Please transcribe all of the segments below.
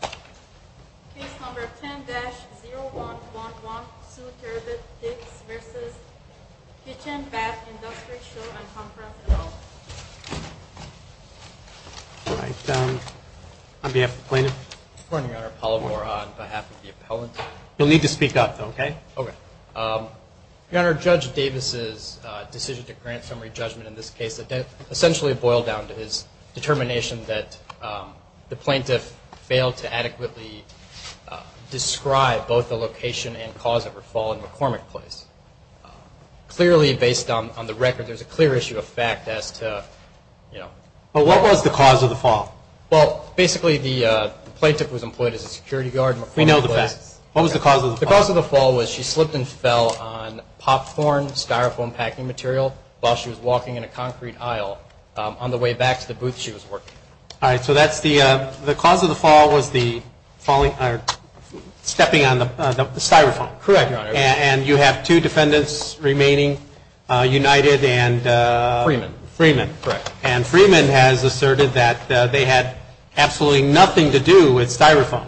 Case number 10-0111, Sue Terbett-Dix v. Kitchen, Bath, Industry Show and Conference at all. All right. On behalf of the plaintiff? Good morning, Your Honor. Paul O'Rourke on behalf of the appellant. You'll need to speak up, though, okay? Okay. Your Honor, Judge Davis's decision to grant summary judgment in this case essentially boiled down to his determination that the plaintiff failed to adequately describe both the location and cause of her fall in McCormick Place. Clearly, based on the record, there's a clear issue of fact as to, you know. Well, what was the cause of the fall? Well, basically, the plaintiff was employed as a security guard in McCormick Place. We know the facts. What was the cause of the fall? The cause of the fall was she slipped and fell on popcorn, styrofoam packing material, while she was walking in a concrete aisle on the way back to the booth she was working in. All right. So that's the cause of the fall was the falling or stepping on the styrofoam. Correct, Your Honor. And you have two defendants remaining, United and? Freeman. Freeman. Correct. And Freeman has asserted that they had absolutely nothing to do with styrofoam.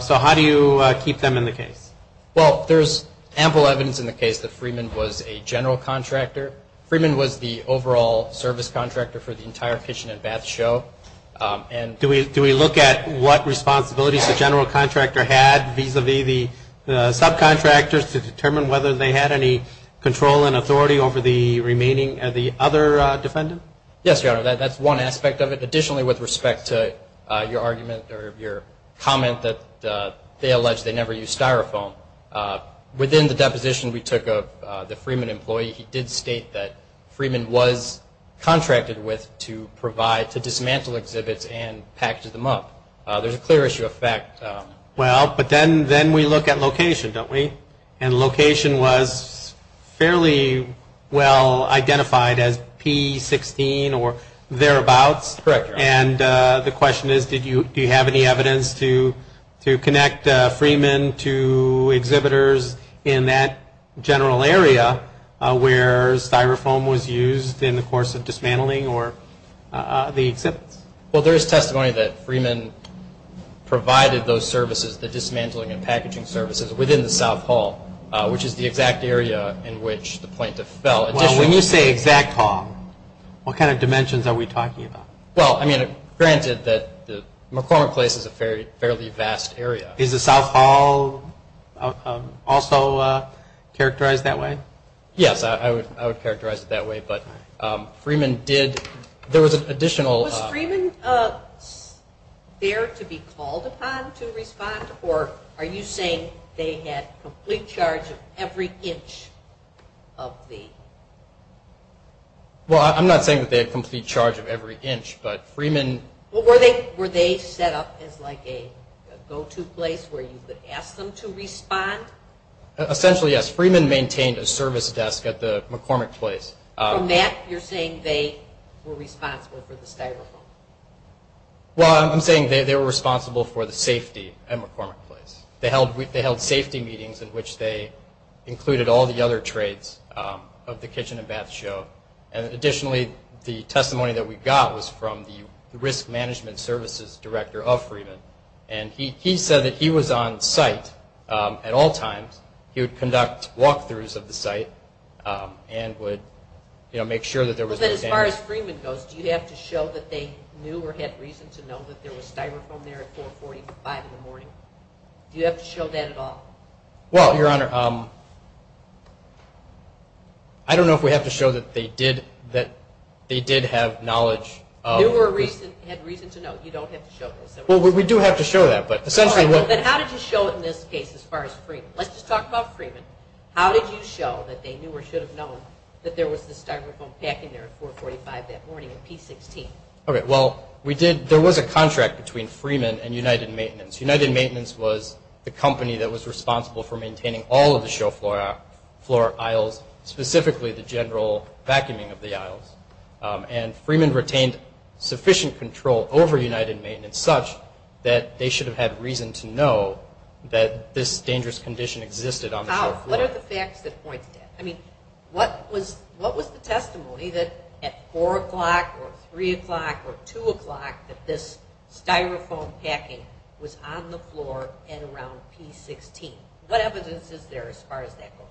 So how do you keep them in the case? Well, there's ample evidence in the case that Freeman was a general contractor. Freeman was the overall service contractor for the entire kitchen and bath show. Do we look at what responsibilities the general contractor had vis-a-vis the subcontractors to determine whether they had any control and authority over the remaining or the other defendant? Yes, Your Honor. That's one aspect of it. Additionally, with respect to your argument or your comment that they allege they never used styrofoam, within the deposition we took of the Freeman employee, he did state that Freeman was contracted with to provide to dismantle exhibits and package them up. There's a clear issue of fact. Well, but then we look at location, don't we? And location was fairly well identified as P16 or thereabouts. Correct, Your Honor. And the question is, do you have any evidence to connect Freeman to exhibitors in that general area where styrofoam was used in the course of dismantling or the exhibits? Well, there is testimony that Freeman provided those services, the dismantling and packaging services, within the South Hall, which is the exact area in which the plaintiff fell. Well, when you say exact hall, what kind of dimensions are we talking about? Well, I mean, granted that the McCormick Place is a fairly vast area. Is the South Hall also characterized that way? Yes, I would characterize it that way. But Freeman did, there was an additional. Was Freeman there to be called upon to respond, or are you saying they had complete charge of every inch of the... Well, I'm not saying that they had complete charge of every inch, but Freeman... Were they set up as like a go-to place where you could ask them to respond? Essentially, yes. Freeman maintained a service desk at the McCormick Place. From that, you're saying they were responsible for the styrofoam? Well, I'm saying they were responsible for the safety at McCormick Place. They held safety meetings in which they included all the other traits of the kitchen and bath show. Additionally, the testimony that we got was from the Risk Management Services Director of Freeman, and he said that he was on site at all times. He would conduct walk-throughs of the site and would make sure that there was... But as far as Freeman goes, do you have to show that they knew or had reason to know that there was styrofoam there at 445 in the morning? Do you have to show that at all? Well, Your Honor, I don't know if we have to show that they did have knowledge... Knew or had reason to know. You don't have to show this. Well, we do have to show that, but essentially... Let's just talk about Freeman. How did you show that they knew or should have known that there was this styrofoam packing there at 445 that morning at P16? Well, there was a contract between Freeman and United Maintenance. United Maintenance was the company that was responsible for maintaining all of the show floor aisles, specifically the general vacuuming of the aisles, and Freeman retained sufficient control over United Maintenance such that they should have had reason to know that this dangerous condition existed on the show floor. What are the facts that point to that? I mean, what was the testimony that at 4 o'clock or 3 o'clock or 2 o'clock that this styrofoam packing was on the floor and around P16? What evidence is there as far as that goes?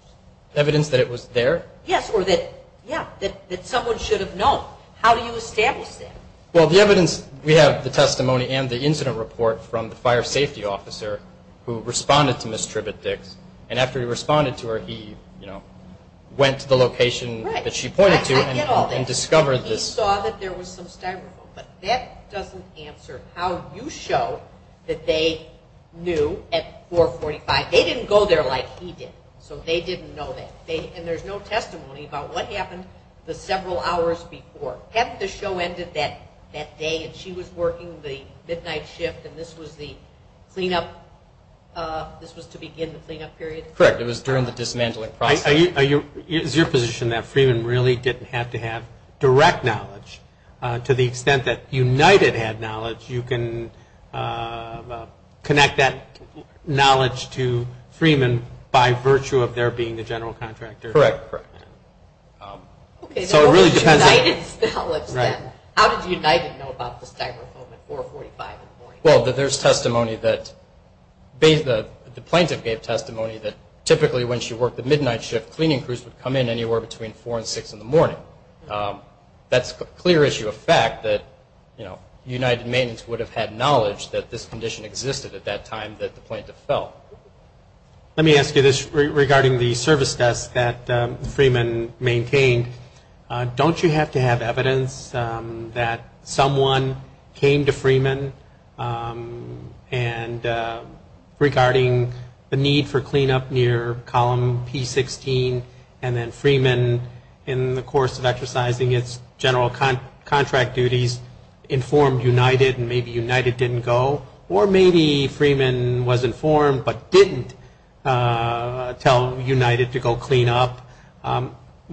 Evidence that it was there? Yes, or that, yeah, that someone should have known. How do you establish that? Well, the evidence, we have the testimony and the incident report from the fire safety officer who responded to Ms. Tribbett-Dix, and after he responded to her, he went to the location that she pointed to and discovered this. He saw that there was some styrofoam, but that doesn't answer how you show that they knew at 445. They didn't go there like he did, so they didn't know that, and there's no testimony about what happened the several hours before. Hadn't the show ended that day and she was working the midnight shift and this was the cleanup, this was to begin the cleanup period? Correct, it was during the dismantling process. Is your position that Freeman really didn't have to have direct knowledge to the extent that United had knowledge, you can connect that knowledge to Freeman by virtue of there being a general contractor? Correct, correct. Okay, so how did United know about the styrofoam at 445 in the morning? Well, there's testimony that the plaintiff gave testimony that typically when she worked the midnight shift, cleaning crews would come in anywhere between 4 and 6 in the morning. That's a clear issue of fact that United Maintenance would have had knowledge that this condition existed at that time that the plaintiff felt. Let me ask you this regarding the service desk that Freeman maintained. Don't you have to have evidence that someone came to Freeman and regarding the need for cleanup near column P16 and then Freeman in the course of exercising its general contract duties informed United and maybe United didn't go or maybe Freeman was informed but didn't tell United to go clean up?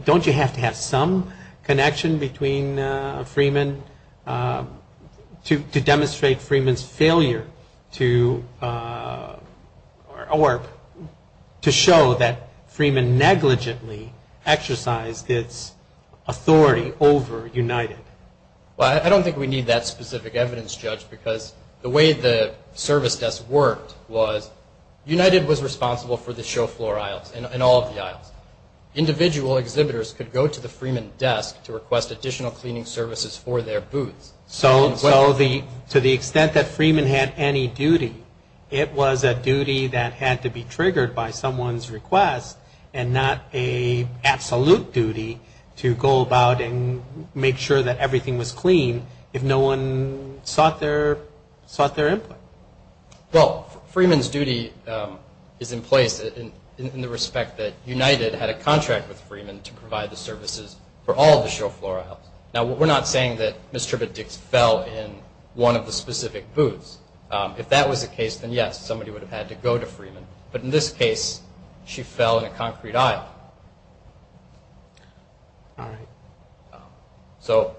Don't you have to have some connection between Freeman to demonstrate Freeman's failure to show that Freeman negligently exercised its authority over United? Well, I don't think we need that specific evidence, Judge, because the way the service desk worked was United was responsible for the show floor aisles and all of the aisles. Individual exhibitors could go to the Freeman desk to request additional cleaning services for their booths. So to the extent that Freeman had any duty, it was a duty that had to be triggered by someone's request and not an absolute duty to go about and make sure that everything was clean if no one sought their input. Well, Freeman's duty is in place in the respect that United had a contract with Freeman to provide the services for all of the show floor aisles. Now, we're not saying that Ms. Tribbett-Dix fell in one of the specific booths. If that was the case, then, yes, somebody would have had to go to Freeman. But in this case, she fell in a concrete aisle. So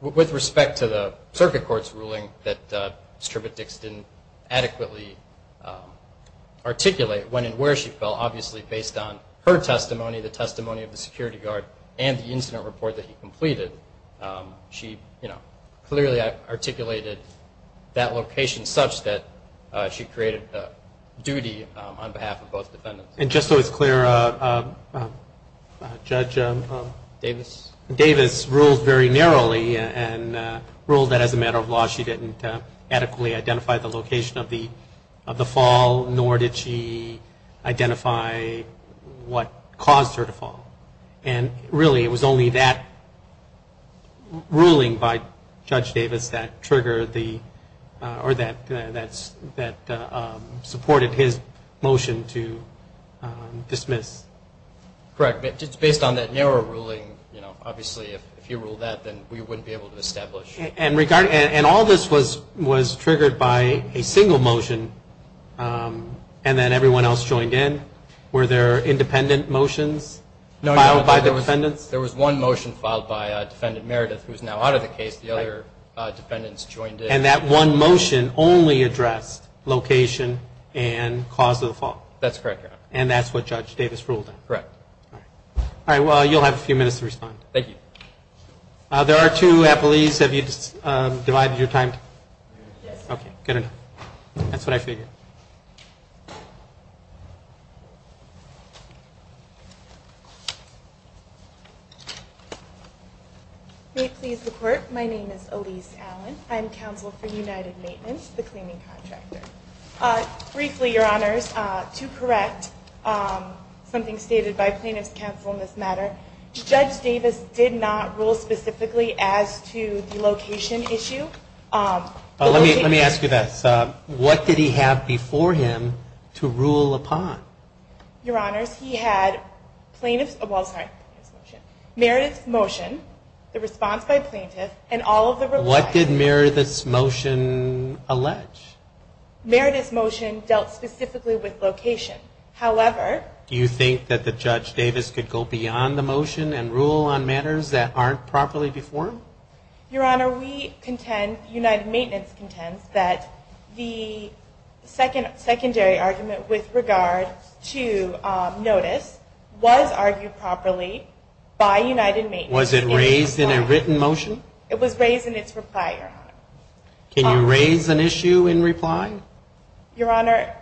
with respect to the circuit court's ruling that Ms. Tribbett-Dix didn't adequately articulate when and where she fell, obviously based on her testimony, the testimony of the security guard, and the incident report that he completed, she clearly articulated that location such that she created a duty on behalf of both defendants. And just so it's clear, Judge Davis ruled very narrowly and ruled that as a matter of law she didn't adequately identify the location of the fall, nor did she identify what caused her to fall. And really, it was only that ruling by Judge Davis that triggered the, or that supported his motion to dismiss. Correct. It's based on that narrow ruling. Obviously, if you rule that, then we wouldn't be able to establish. And all this was triggered by a single motion, and then everyone else joined in. Were there independent motions filed by defendants? No, there was one motion filed by Defendant Meredith, who is now out of the case. The other defendants joined in. And that one motion only addressed location and cause of the fall? That's correct, Your Honor. And that's what Judge Davis ruled on? Correct. All right. All right, well, you'll have a few minutes to respond. Thank you. There are two appellees. Have you divided your time? Yes. Okay, good enough. That's what I figured. May it please the Court, my name is Elise Allen. I'm counsel for United Maintenance, the claiming contractor. Briefly, Your Honors, to correct something stated by plaintiff's counsel in this matter, Judge Davis did not rule specifically as to the location issue. Well, let me ask you this. What did he have before him to rule upon? Your Honors, he had plaintiff's, well, sorry, plaintiff's motion, Meredith's motion, the response by plaintiff, and all of the related. What did Meredith's motion allege? Meredith's motion dealt specifically with location. However. Do you think that the Judge Davis could go beyond the motion and rule on matters that aren't properly before him? Your Honor, we contend, United Maintenance contends, that the secondary argument with regard to notice was argued properly by United Maintenance. Was it raised in a written motion? It was raised in its reply, Your Honor. Can you raise an issue in reply? Your Honor.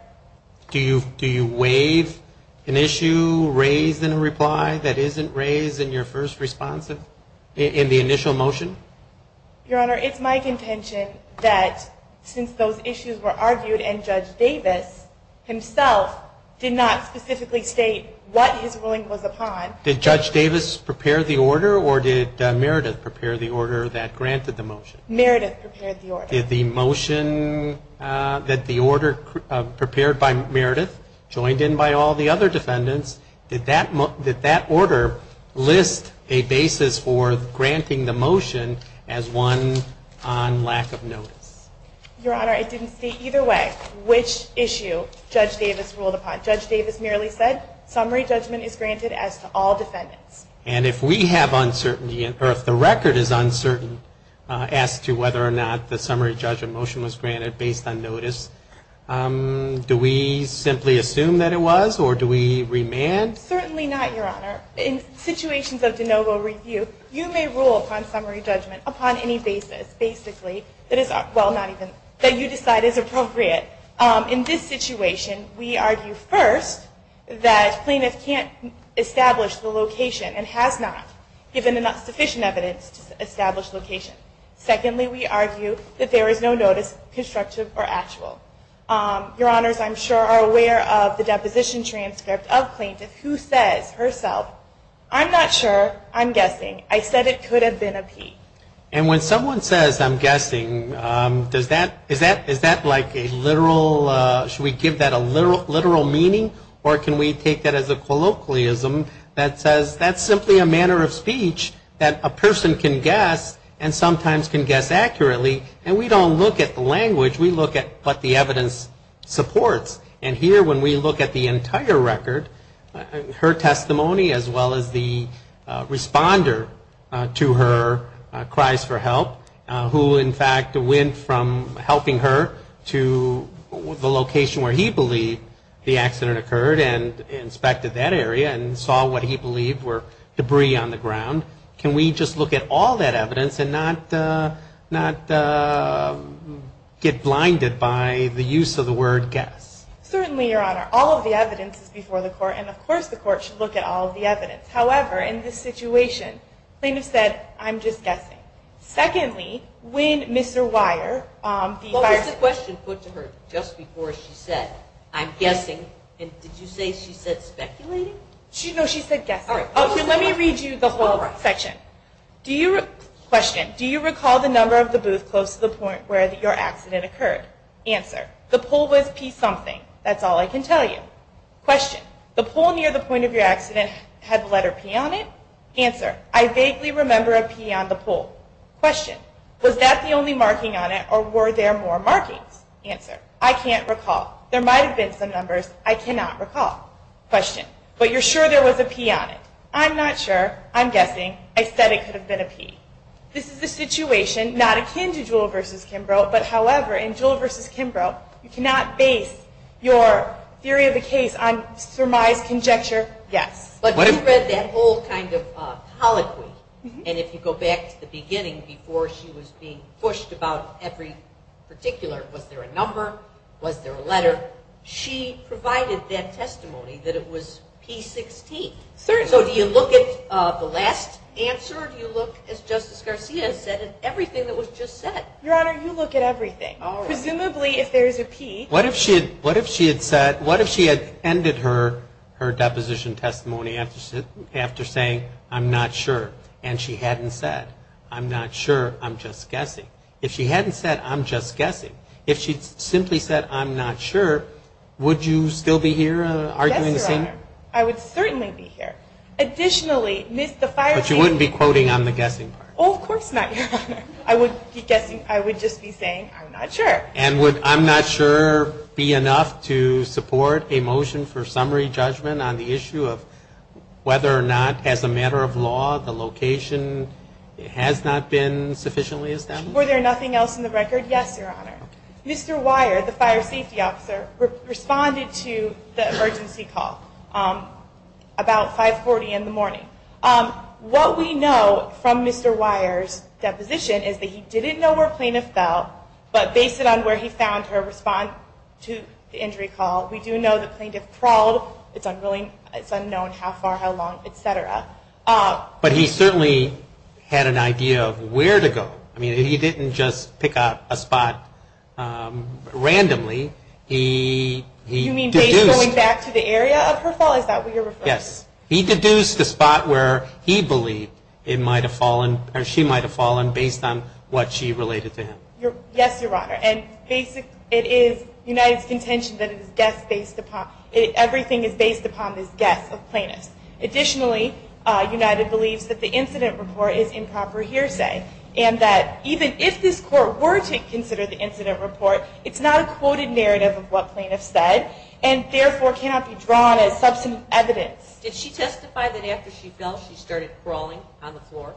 Do you waive an issue raised in a reply that isn't raised in your first response in the initial motion? Your Honor, it's my contention that since those issues were argued and Judge Davis himself did not specifically state what his ruling was upon. Did Judge Davis prepare the order or did Meredith prepare the order that granted the motion? Meredith prepared the order. Did the motion that the order prepared by Meredith, joined in by all the other defendants, did that order list a basis for granting the motion as one on lack of notice? Your Honor, it didn't state either way which issue Judge Davis ruled upon. Judge Davis merely said, summary judgment is granted as to all defendants. And if we have uncertainty, or if the record is uncertain, as to whether or not the summary judgment motion was granted based on notice, do we simply assume that it was or do we remand? Certainly not, Your Honor. In situations of de novo review, you may rule upon summary judgment upon any basis, basically, that is, well, not even, that you decide is appropriate. In this situation, we argue first that plaintiff can't establish the location and has not given enough sufficient evidence to establish location. Secondly, we argue that there is no notice constructive or actual. Your Honors, I'm sure are aware of the deposition transcript of plaintiff who says herself, I'm not sure, I'm guessing, I said it could have been a P. And when someone says, I'm guessing, does that, is that like a literal, should we give that a literal meaning or can we take that as a colloquialism that says, that's simply a manner of speech that a person can guess and sometimes can guess accurately and we don't look at the language, we look at what the evidence supports. And here when we look at the entire record, her testimony as well as the responder to her cries for help, who in fact went from helping her to the location where he believed the accident occurred and inspected that area and saw what he believed were debris on the ground, can we just look at all that evidence and not get blinded by the use of the word guess? Certainly, Your Honor, all of the evidence is before the court and of course the court should look at all of the evidence. However, in this situation, plaintiff said, I'm just guessing. Secondly, when Mr. Weier, the fire... What was the question put to her just before she said, I'm guessing, and did you say she said speculating? No, she said guessing. Let me read you the whole section. Question, do you recall the number of the booth close to the point where your accident occurred? Answer, the pole was P something, that's all I can tell you. Question, the pole near the point of your accident had the letter P on it? Answer, I vaguely remember a P on the pole. Question, was that the only marking on it or were there more markings? Answer, I can't recall. There might have been some numbers, I cannot recall. Question, but you're sure there was a P on it? I'm not sure, I'm guessing, I said it could have been a P. This is the situation, not akin to Jewell v. Kimbrough, but however, in Jewell v. Kimbrough, you cannot base your theory of the case on surmised conjecture, yes. But you read that whole kind of poloquy, and if you go back to the beginning before she was being pushed about every particular, was there a number, was there a letter, she provided that testimony that it was P16. So do you look at the last answer or do you look, as Justice Garcia said, at everything that was just said? Your Honor, you look at everything. Presumably if there is a P. What if she had ended her deposition testimony after saying, I'm not sure, and she hadn't said, I'm not sure, I'm just guessing. If she hadn't said, I'm just guessing. If she simply said, I'm not sure, would you still be here arguing the same? I would certainly be here. Additionally, the fire safety. But you wouldn't be quoting on the guessing part. Oh, of course not, Your Honor. I would be guessing, I would just be saying, I'm not sure. And would I'm not sure be enough to support a motion for summary judgment on the issue of whether or not, as a matter of law, the location has not been sufficiently established? Were there nothing else in the record? Yes, Your Honor. Mr. Wire, the fire safety officer, responded to the emergency call about 540 in the morning. What we know from Mr. Wire's deposition is that he didn't know where plaintiff fell, but based on where he found her response to the injury call, we do know the plaintiff crawled. It's unknown how far, how long, et cetera. But he certainly had an idea of where to go. I mean, he didn't just pick out a spot randomly. You mean based on going back to the area of her fall? Is that what you're referring to? Yes. He deduced the spot where he believed it might have fallen, or she might have fallen, based on what she related to him. Yes, Your Honor. And basically, it is United's contention that everything is based upon this guess of plaintiff's. Additionally, United believes that the incident report is improper hearsay, and that even if this court were to consider the incident report, it's not a quoted narrative of what plaintiffs said, and therefore cannot be drawn as substantive evidence. Did she testify that after she fell, she started crawling on the floor?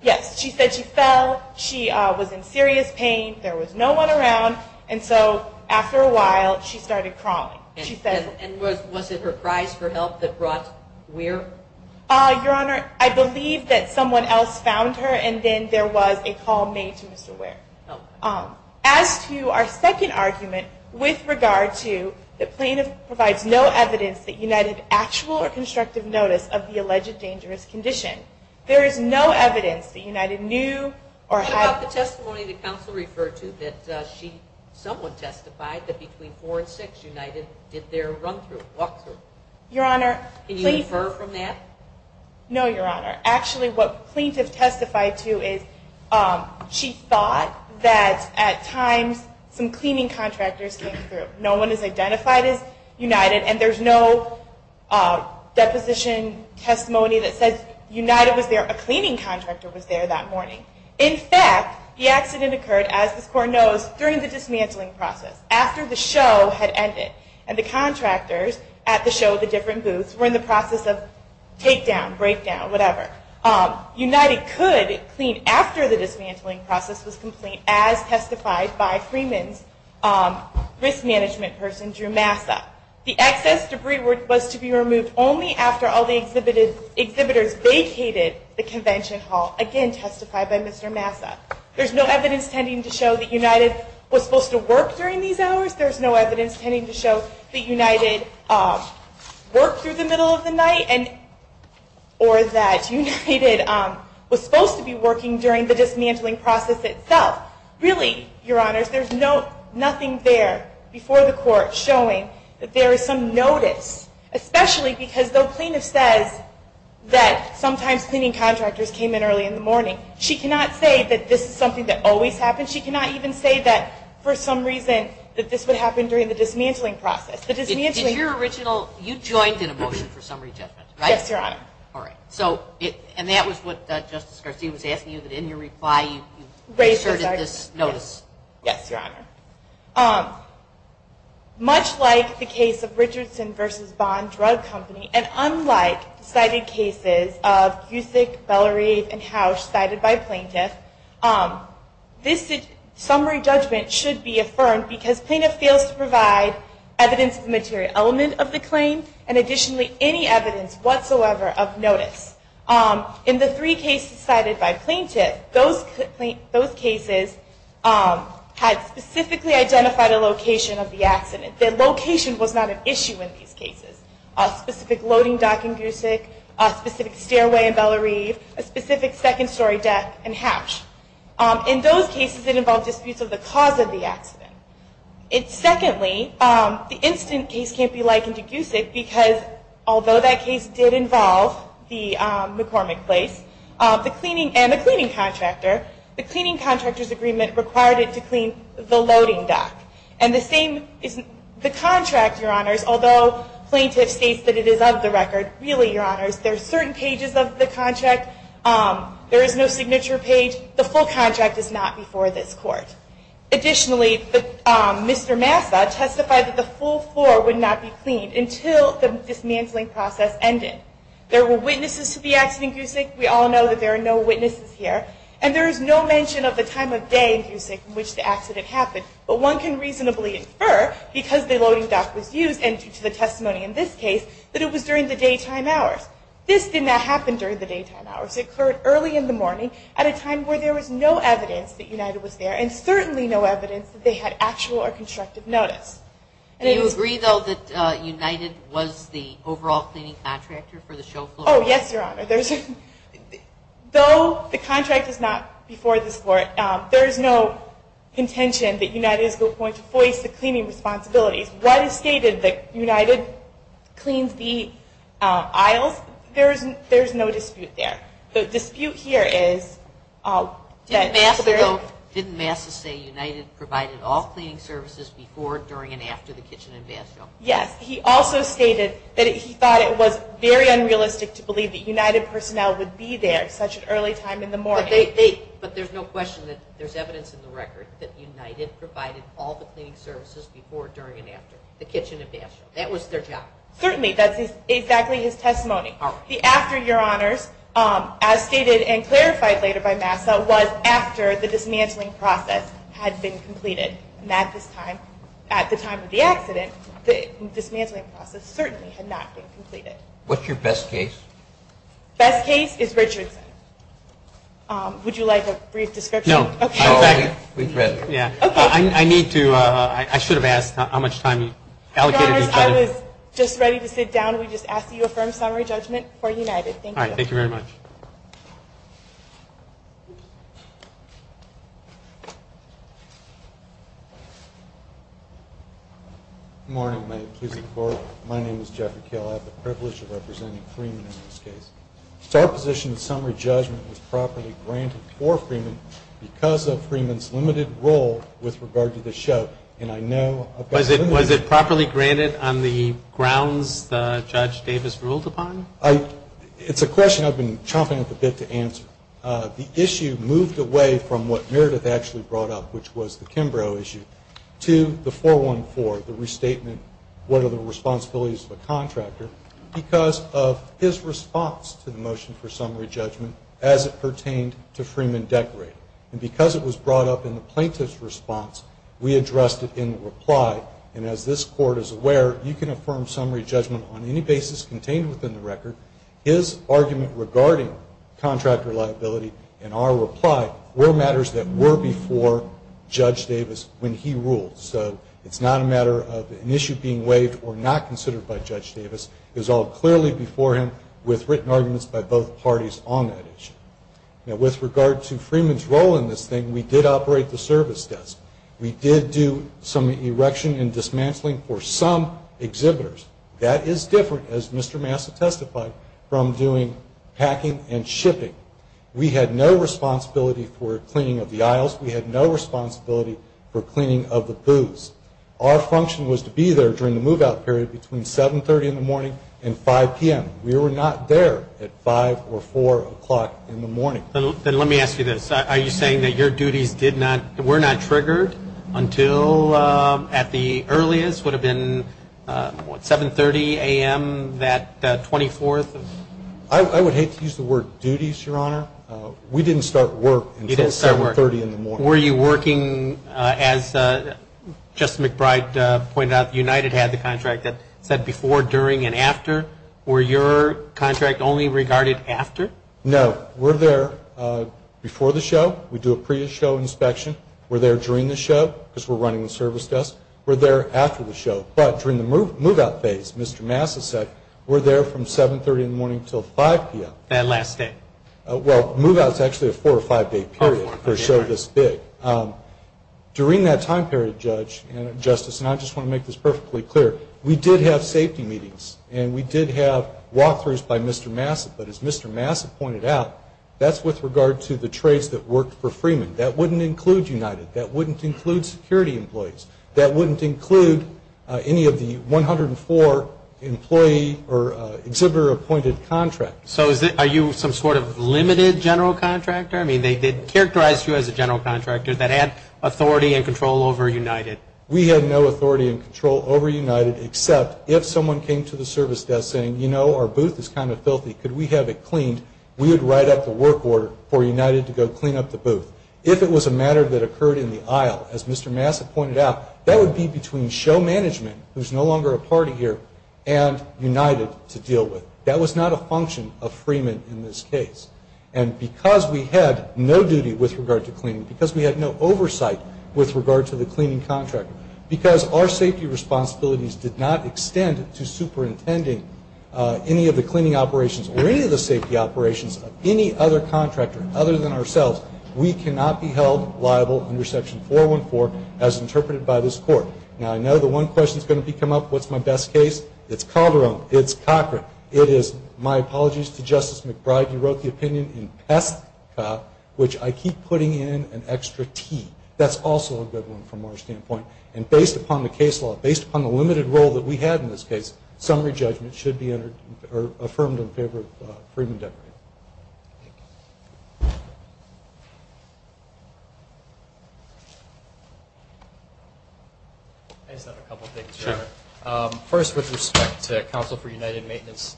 Yes. She said she fell. She was in serious pain. There was no one around. And so after a while, she started crawling. And was it her cries for help that brought Weir? Your Honor, I believe that someone else found her, and then there was a call made to Mr. Weir. As to our second argument with regard to the plaintiff provides no evidence that United had actual or constructive notice of the alleged dangerous condition, there is no evidence that United knew or had. What about the testimony the counsel referred to that she somewhat testified that between 4 and 6, United did their run-through, walk-through? Your Honor, please. Can you infer from that? No, Your Honor. Actually, what plaintiff testified to is she thought that at times some cleaning contractors came through. No one is identified as United, and there's no deposition testimony that says United was there. A cleaning contractor was there that morning. In fact, the accident occurred, as this court knows, during the dismantling process. After the show had ended. And the contractors at the show, the different booths, were in the process of take-down, break-down, whatever. United could clean after the dismantling process was complete, as testified by Freeman's risk management person, Drew Massa. The excess debris was to be removed only after all the exhibitors vacated the convention hall, again testified by Mr. Massa. There's no evidence tending to show that United was supposed to work during these hours. There's no evidence tending to show that United worked through the middle of the night, or that United was supposed to be working during the dismantling process itself. Really, Your Honors, there's nothing there before the court showing that there is some notice, especially because though plaintiff says that sometimes cleaning contractors came in early in the morning, she cannot say that this is something that always happens. She cannot even say that, for some reason, that this would happen during the dismantling process. You joined in a motion for summary judgment, right? Yes, Your Honor. All right. And that was what Justice Garcia was asking you, that in your reply you asserted this notice. Yes, Your Honor. Much like the case of Richardson v. Bond Drug Company, and unlike the cited cases of Busek, Bellerive, and Housh cited by plaintiff, this summary judgment should be affirmed because plaintiff fails to provide evidence of the material element of the claim and additionally any evidence whatsoever of notice. In the three cases cited by plaintiff, those cases had specifically identified a location of the accident. The location was not an issue in these cases. A specific loading dock in Busek, a specific stairway in Bellerive, a specific second story deck in Housh. In those cases, it involved disputes of the cause of the accident. Secondly, the instant case can't be likened to Busek because although that case did involve the McCormick place and the cleaning contractor, the cleaning contractor's agreement required it to clean the loading dock. And the same is the contract, Your Honors, although plaintiff states that it is of the record. Really, Your Honors, there are certain pages of the contract. There is no signature page. The full contract is not before this court. Additionally, Mr. Massa testified that the full floor would not be cleaned until the dismantling process ended. There were witnesses to the accident in Busek. We all know that there are no witnesses here. And there is no mention of the time of day in Busek in which the accident happened. But one can reasonably infer, because the loading dock was used and to the testimony in this case, that it was during the daytime hours. This did not happen during the daytime hours. It occurred early in the morning at a time where there was no evidence that United was there and certainly no evidence that they had actual or constructive notice. Do you agree, though, that United was the overall cleaning contractor for the show floor? Oh, yes, Your Honor. Though the contract is not before this court, there is no contention that United is going to voice the cleaning responsibilities. What is stated that United cleans the aisles, there is no dispute there. The dispute here is that- Didn't Massa say United provided all cleaning services before, during, and after the kitchen and bathroom? Yes. He also stated that he thought it was very unrealistic to believe that United personnel would be there at such an early time in the morning. But there's no question that there's evidence in the record that United provided all the cleaning services before, during, and after the kitchen and bathroom. That was their job. Certainly. That's exactly his testimony. The after, Your Honors, as stated and clarified later by Massa, was after the dismantling process had been completed. And at this time, at the time of the accident, the dismantling process certainly had not been completed. What's your best case? Best case is Richardson. Would you like a brief description? No. We've read it. Yeah. I need to, I should have asked how much time allocated. Your Honors, I was just ready to sit down. We just asked that you affirm summary judgment for United. Thank you. All right. Thank you very much. Good morning, my accusing court. My name is Jeffrey Kill. I have the privilege of representing Freeman in this case. It's our position that summary judgment was properly granted for Freeman because of Freeman's limited role with regard to the show. And I know about the limitations. Was it properly granted on the grounds that Judge Davis ruled upon? It's a question I've been chomping at the bit to answer. The issue moved away from what Meredith actually brought up, which was the Kimbrough issue. To the 414, the restatement, what are the responsibilities of a contractor, because of his response to the motion for summary judgment as it pertained to Freeman Decker. And because it was brought up in the plaintiff's response, we addressed it in reply. And as this court is aware, you can affirm summary judgment on any basis contained within the record. His argument regarding contractor liability and our reply were matters that were before Judge Davis when he ruled. So it's not a matter of an issue being waived or not considered by Judge Davis. It was all clearly before him with written arguments by both parties on that issue. Now, with regard to Freeman's role in this thing, we did operate the service desk. We did do some erection and dismantling for some exhibitors. That is different, as Mr. Massa testified, from doing packing and shipping. We had no responsibility for cleaning of the aisles. We had no responsibility for cleaning of the booths. Our function was to be there during the move-out period between 730 in the morning and 5 p.m. We were not there at 5 or 4 o'clock in the morning. Then let me ask you this. Are you saying that your duties were not triggered until at the earliest? Would it have been 730 a.m. that 24th? I would hate to use the word duties, Your Honor. We didn't start work until 730 in the morning. Were you working, as Justice McBride pointed out, United had the contract that said before, during, and after. Were your contract only regarded after? No. We're there before the show. We do a pre-show inspection. We're there during the show because we're running the service desk. We're there after the show. But during the move-out phase, Mr. Massa said, we're there from 730 in the morning until 5 p.m. That last day. Well, move-out is actually a four- or five-day period for a show this big. During that time period, Judge and Justice, and I just want to make this perfectly clear, we did have safety meetings and we did have walk-throughs by Mr. Massa. But as Mr. Massa pointed out, that's with regard to the trades that worked for Freeman. That wouldn't include United. That wouldn't include security employees. That wouldn't include any of the 104 employee or exhibitor-appointed contracts. So are you some sort of limited general contractor? I mean, they characterized you as a general contractor that had authority and control over United. We had no authority and control over United except if someone came to the service desk saying, you know, our booth is kind of filthy. Could we have it cleaned? We would write up the work order for United to go clean up the booth. If it was a matter that occurred in the aisle, as Mr. Massa pointed out, that would be between show management, who's no longer a party here, and United to deal with. That was not a function of Freeman in this case. And because we had no duty with regard to cleaning, because we had no oversight with regard to the cleaning contractor, because our safety responsibilities did not extend to superintending any of the cleaning operations or any of the safety operations of any other contractor other than ourselves, we cannot be held liable under Section 414 as interpreted by this Court. Now, I know the one question that's going to come up, what's my best case? It's Calderon. It's Cochran. It is, my apologies to Justice McBride, you wrote the opinion in Peska, which I keep putting in an extra T. That's also a good one from our standpoint. And based upon the case law, based upon the limited role that we had in this case, summary judgment should be affirmed in favor of Freeman Deckard. I just have a couple of things. Sure. First, with respect to Counsel for United Maintenance,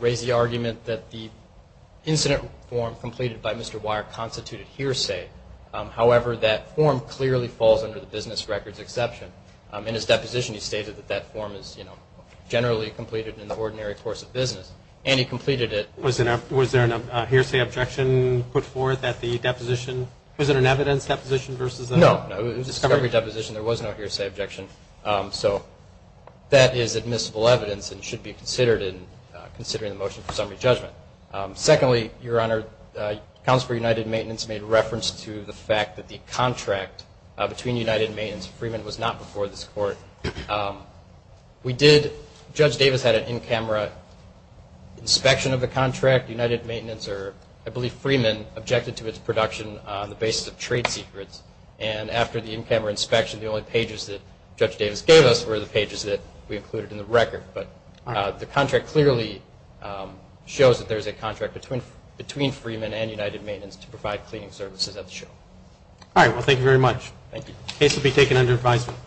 raise the argument that the incident form completed by Mr. Weyer constituted hearsay. However, that form clearly falls under the business records exception. In his deposition, he stated that that form is, you know, generally completed in the ordinary course of business, and he completed it. Was there a hearsay objection put forth at the deposition? Was it an evidence deposition versus a discovery? No, it was a discovery deposition. There was no hearsay objection. So that is admissible evidence and should be considered in considering the motion for summary judgment. Secondly, Your Honor, Counsel for United Maintenance made reference to the fact that the contract between United Maintenance and Freeman was not before this Court. We did, Judge Davis had an in-camera inspection of the contract. United Maintenance, or I believe Freeman, objected to its production on the basis of trade secrets. And after the in-camera inspection, the only pages that Judge Davis gave us were the pages that we included in the record. But the contract clearly shows that there is a contract between Freeman and United Maintenance to provide cleaning services at the show. All right. Well, thank you very much. Thank you. The case will be taken under advisement.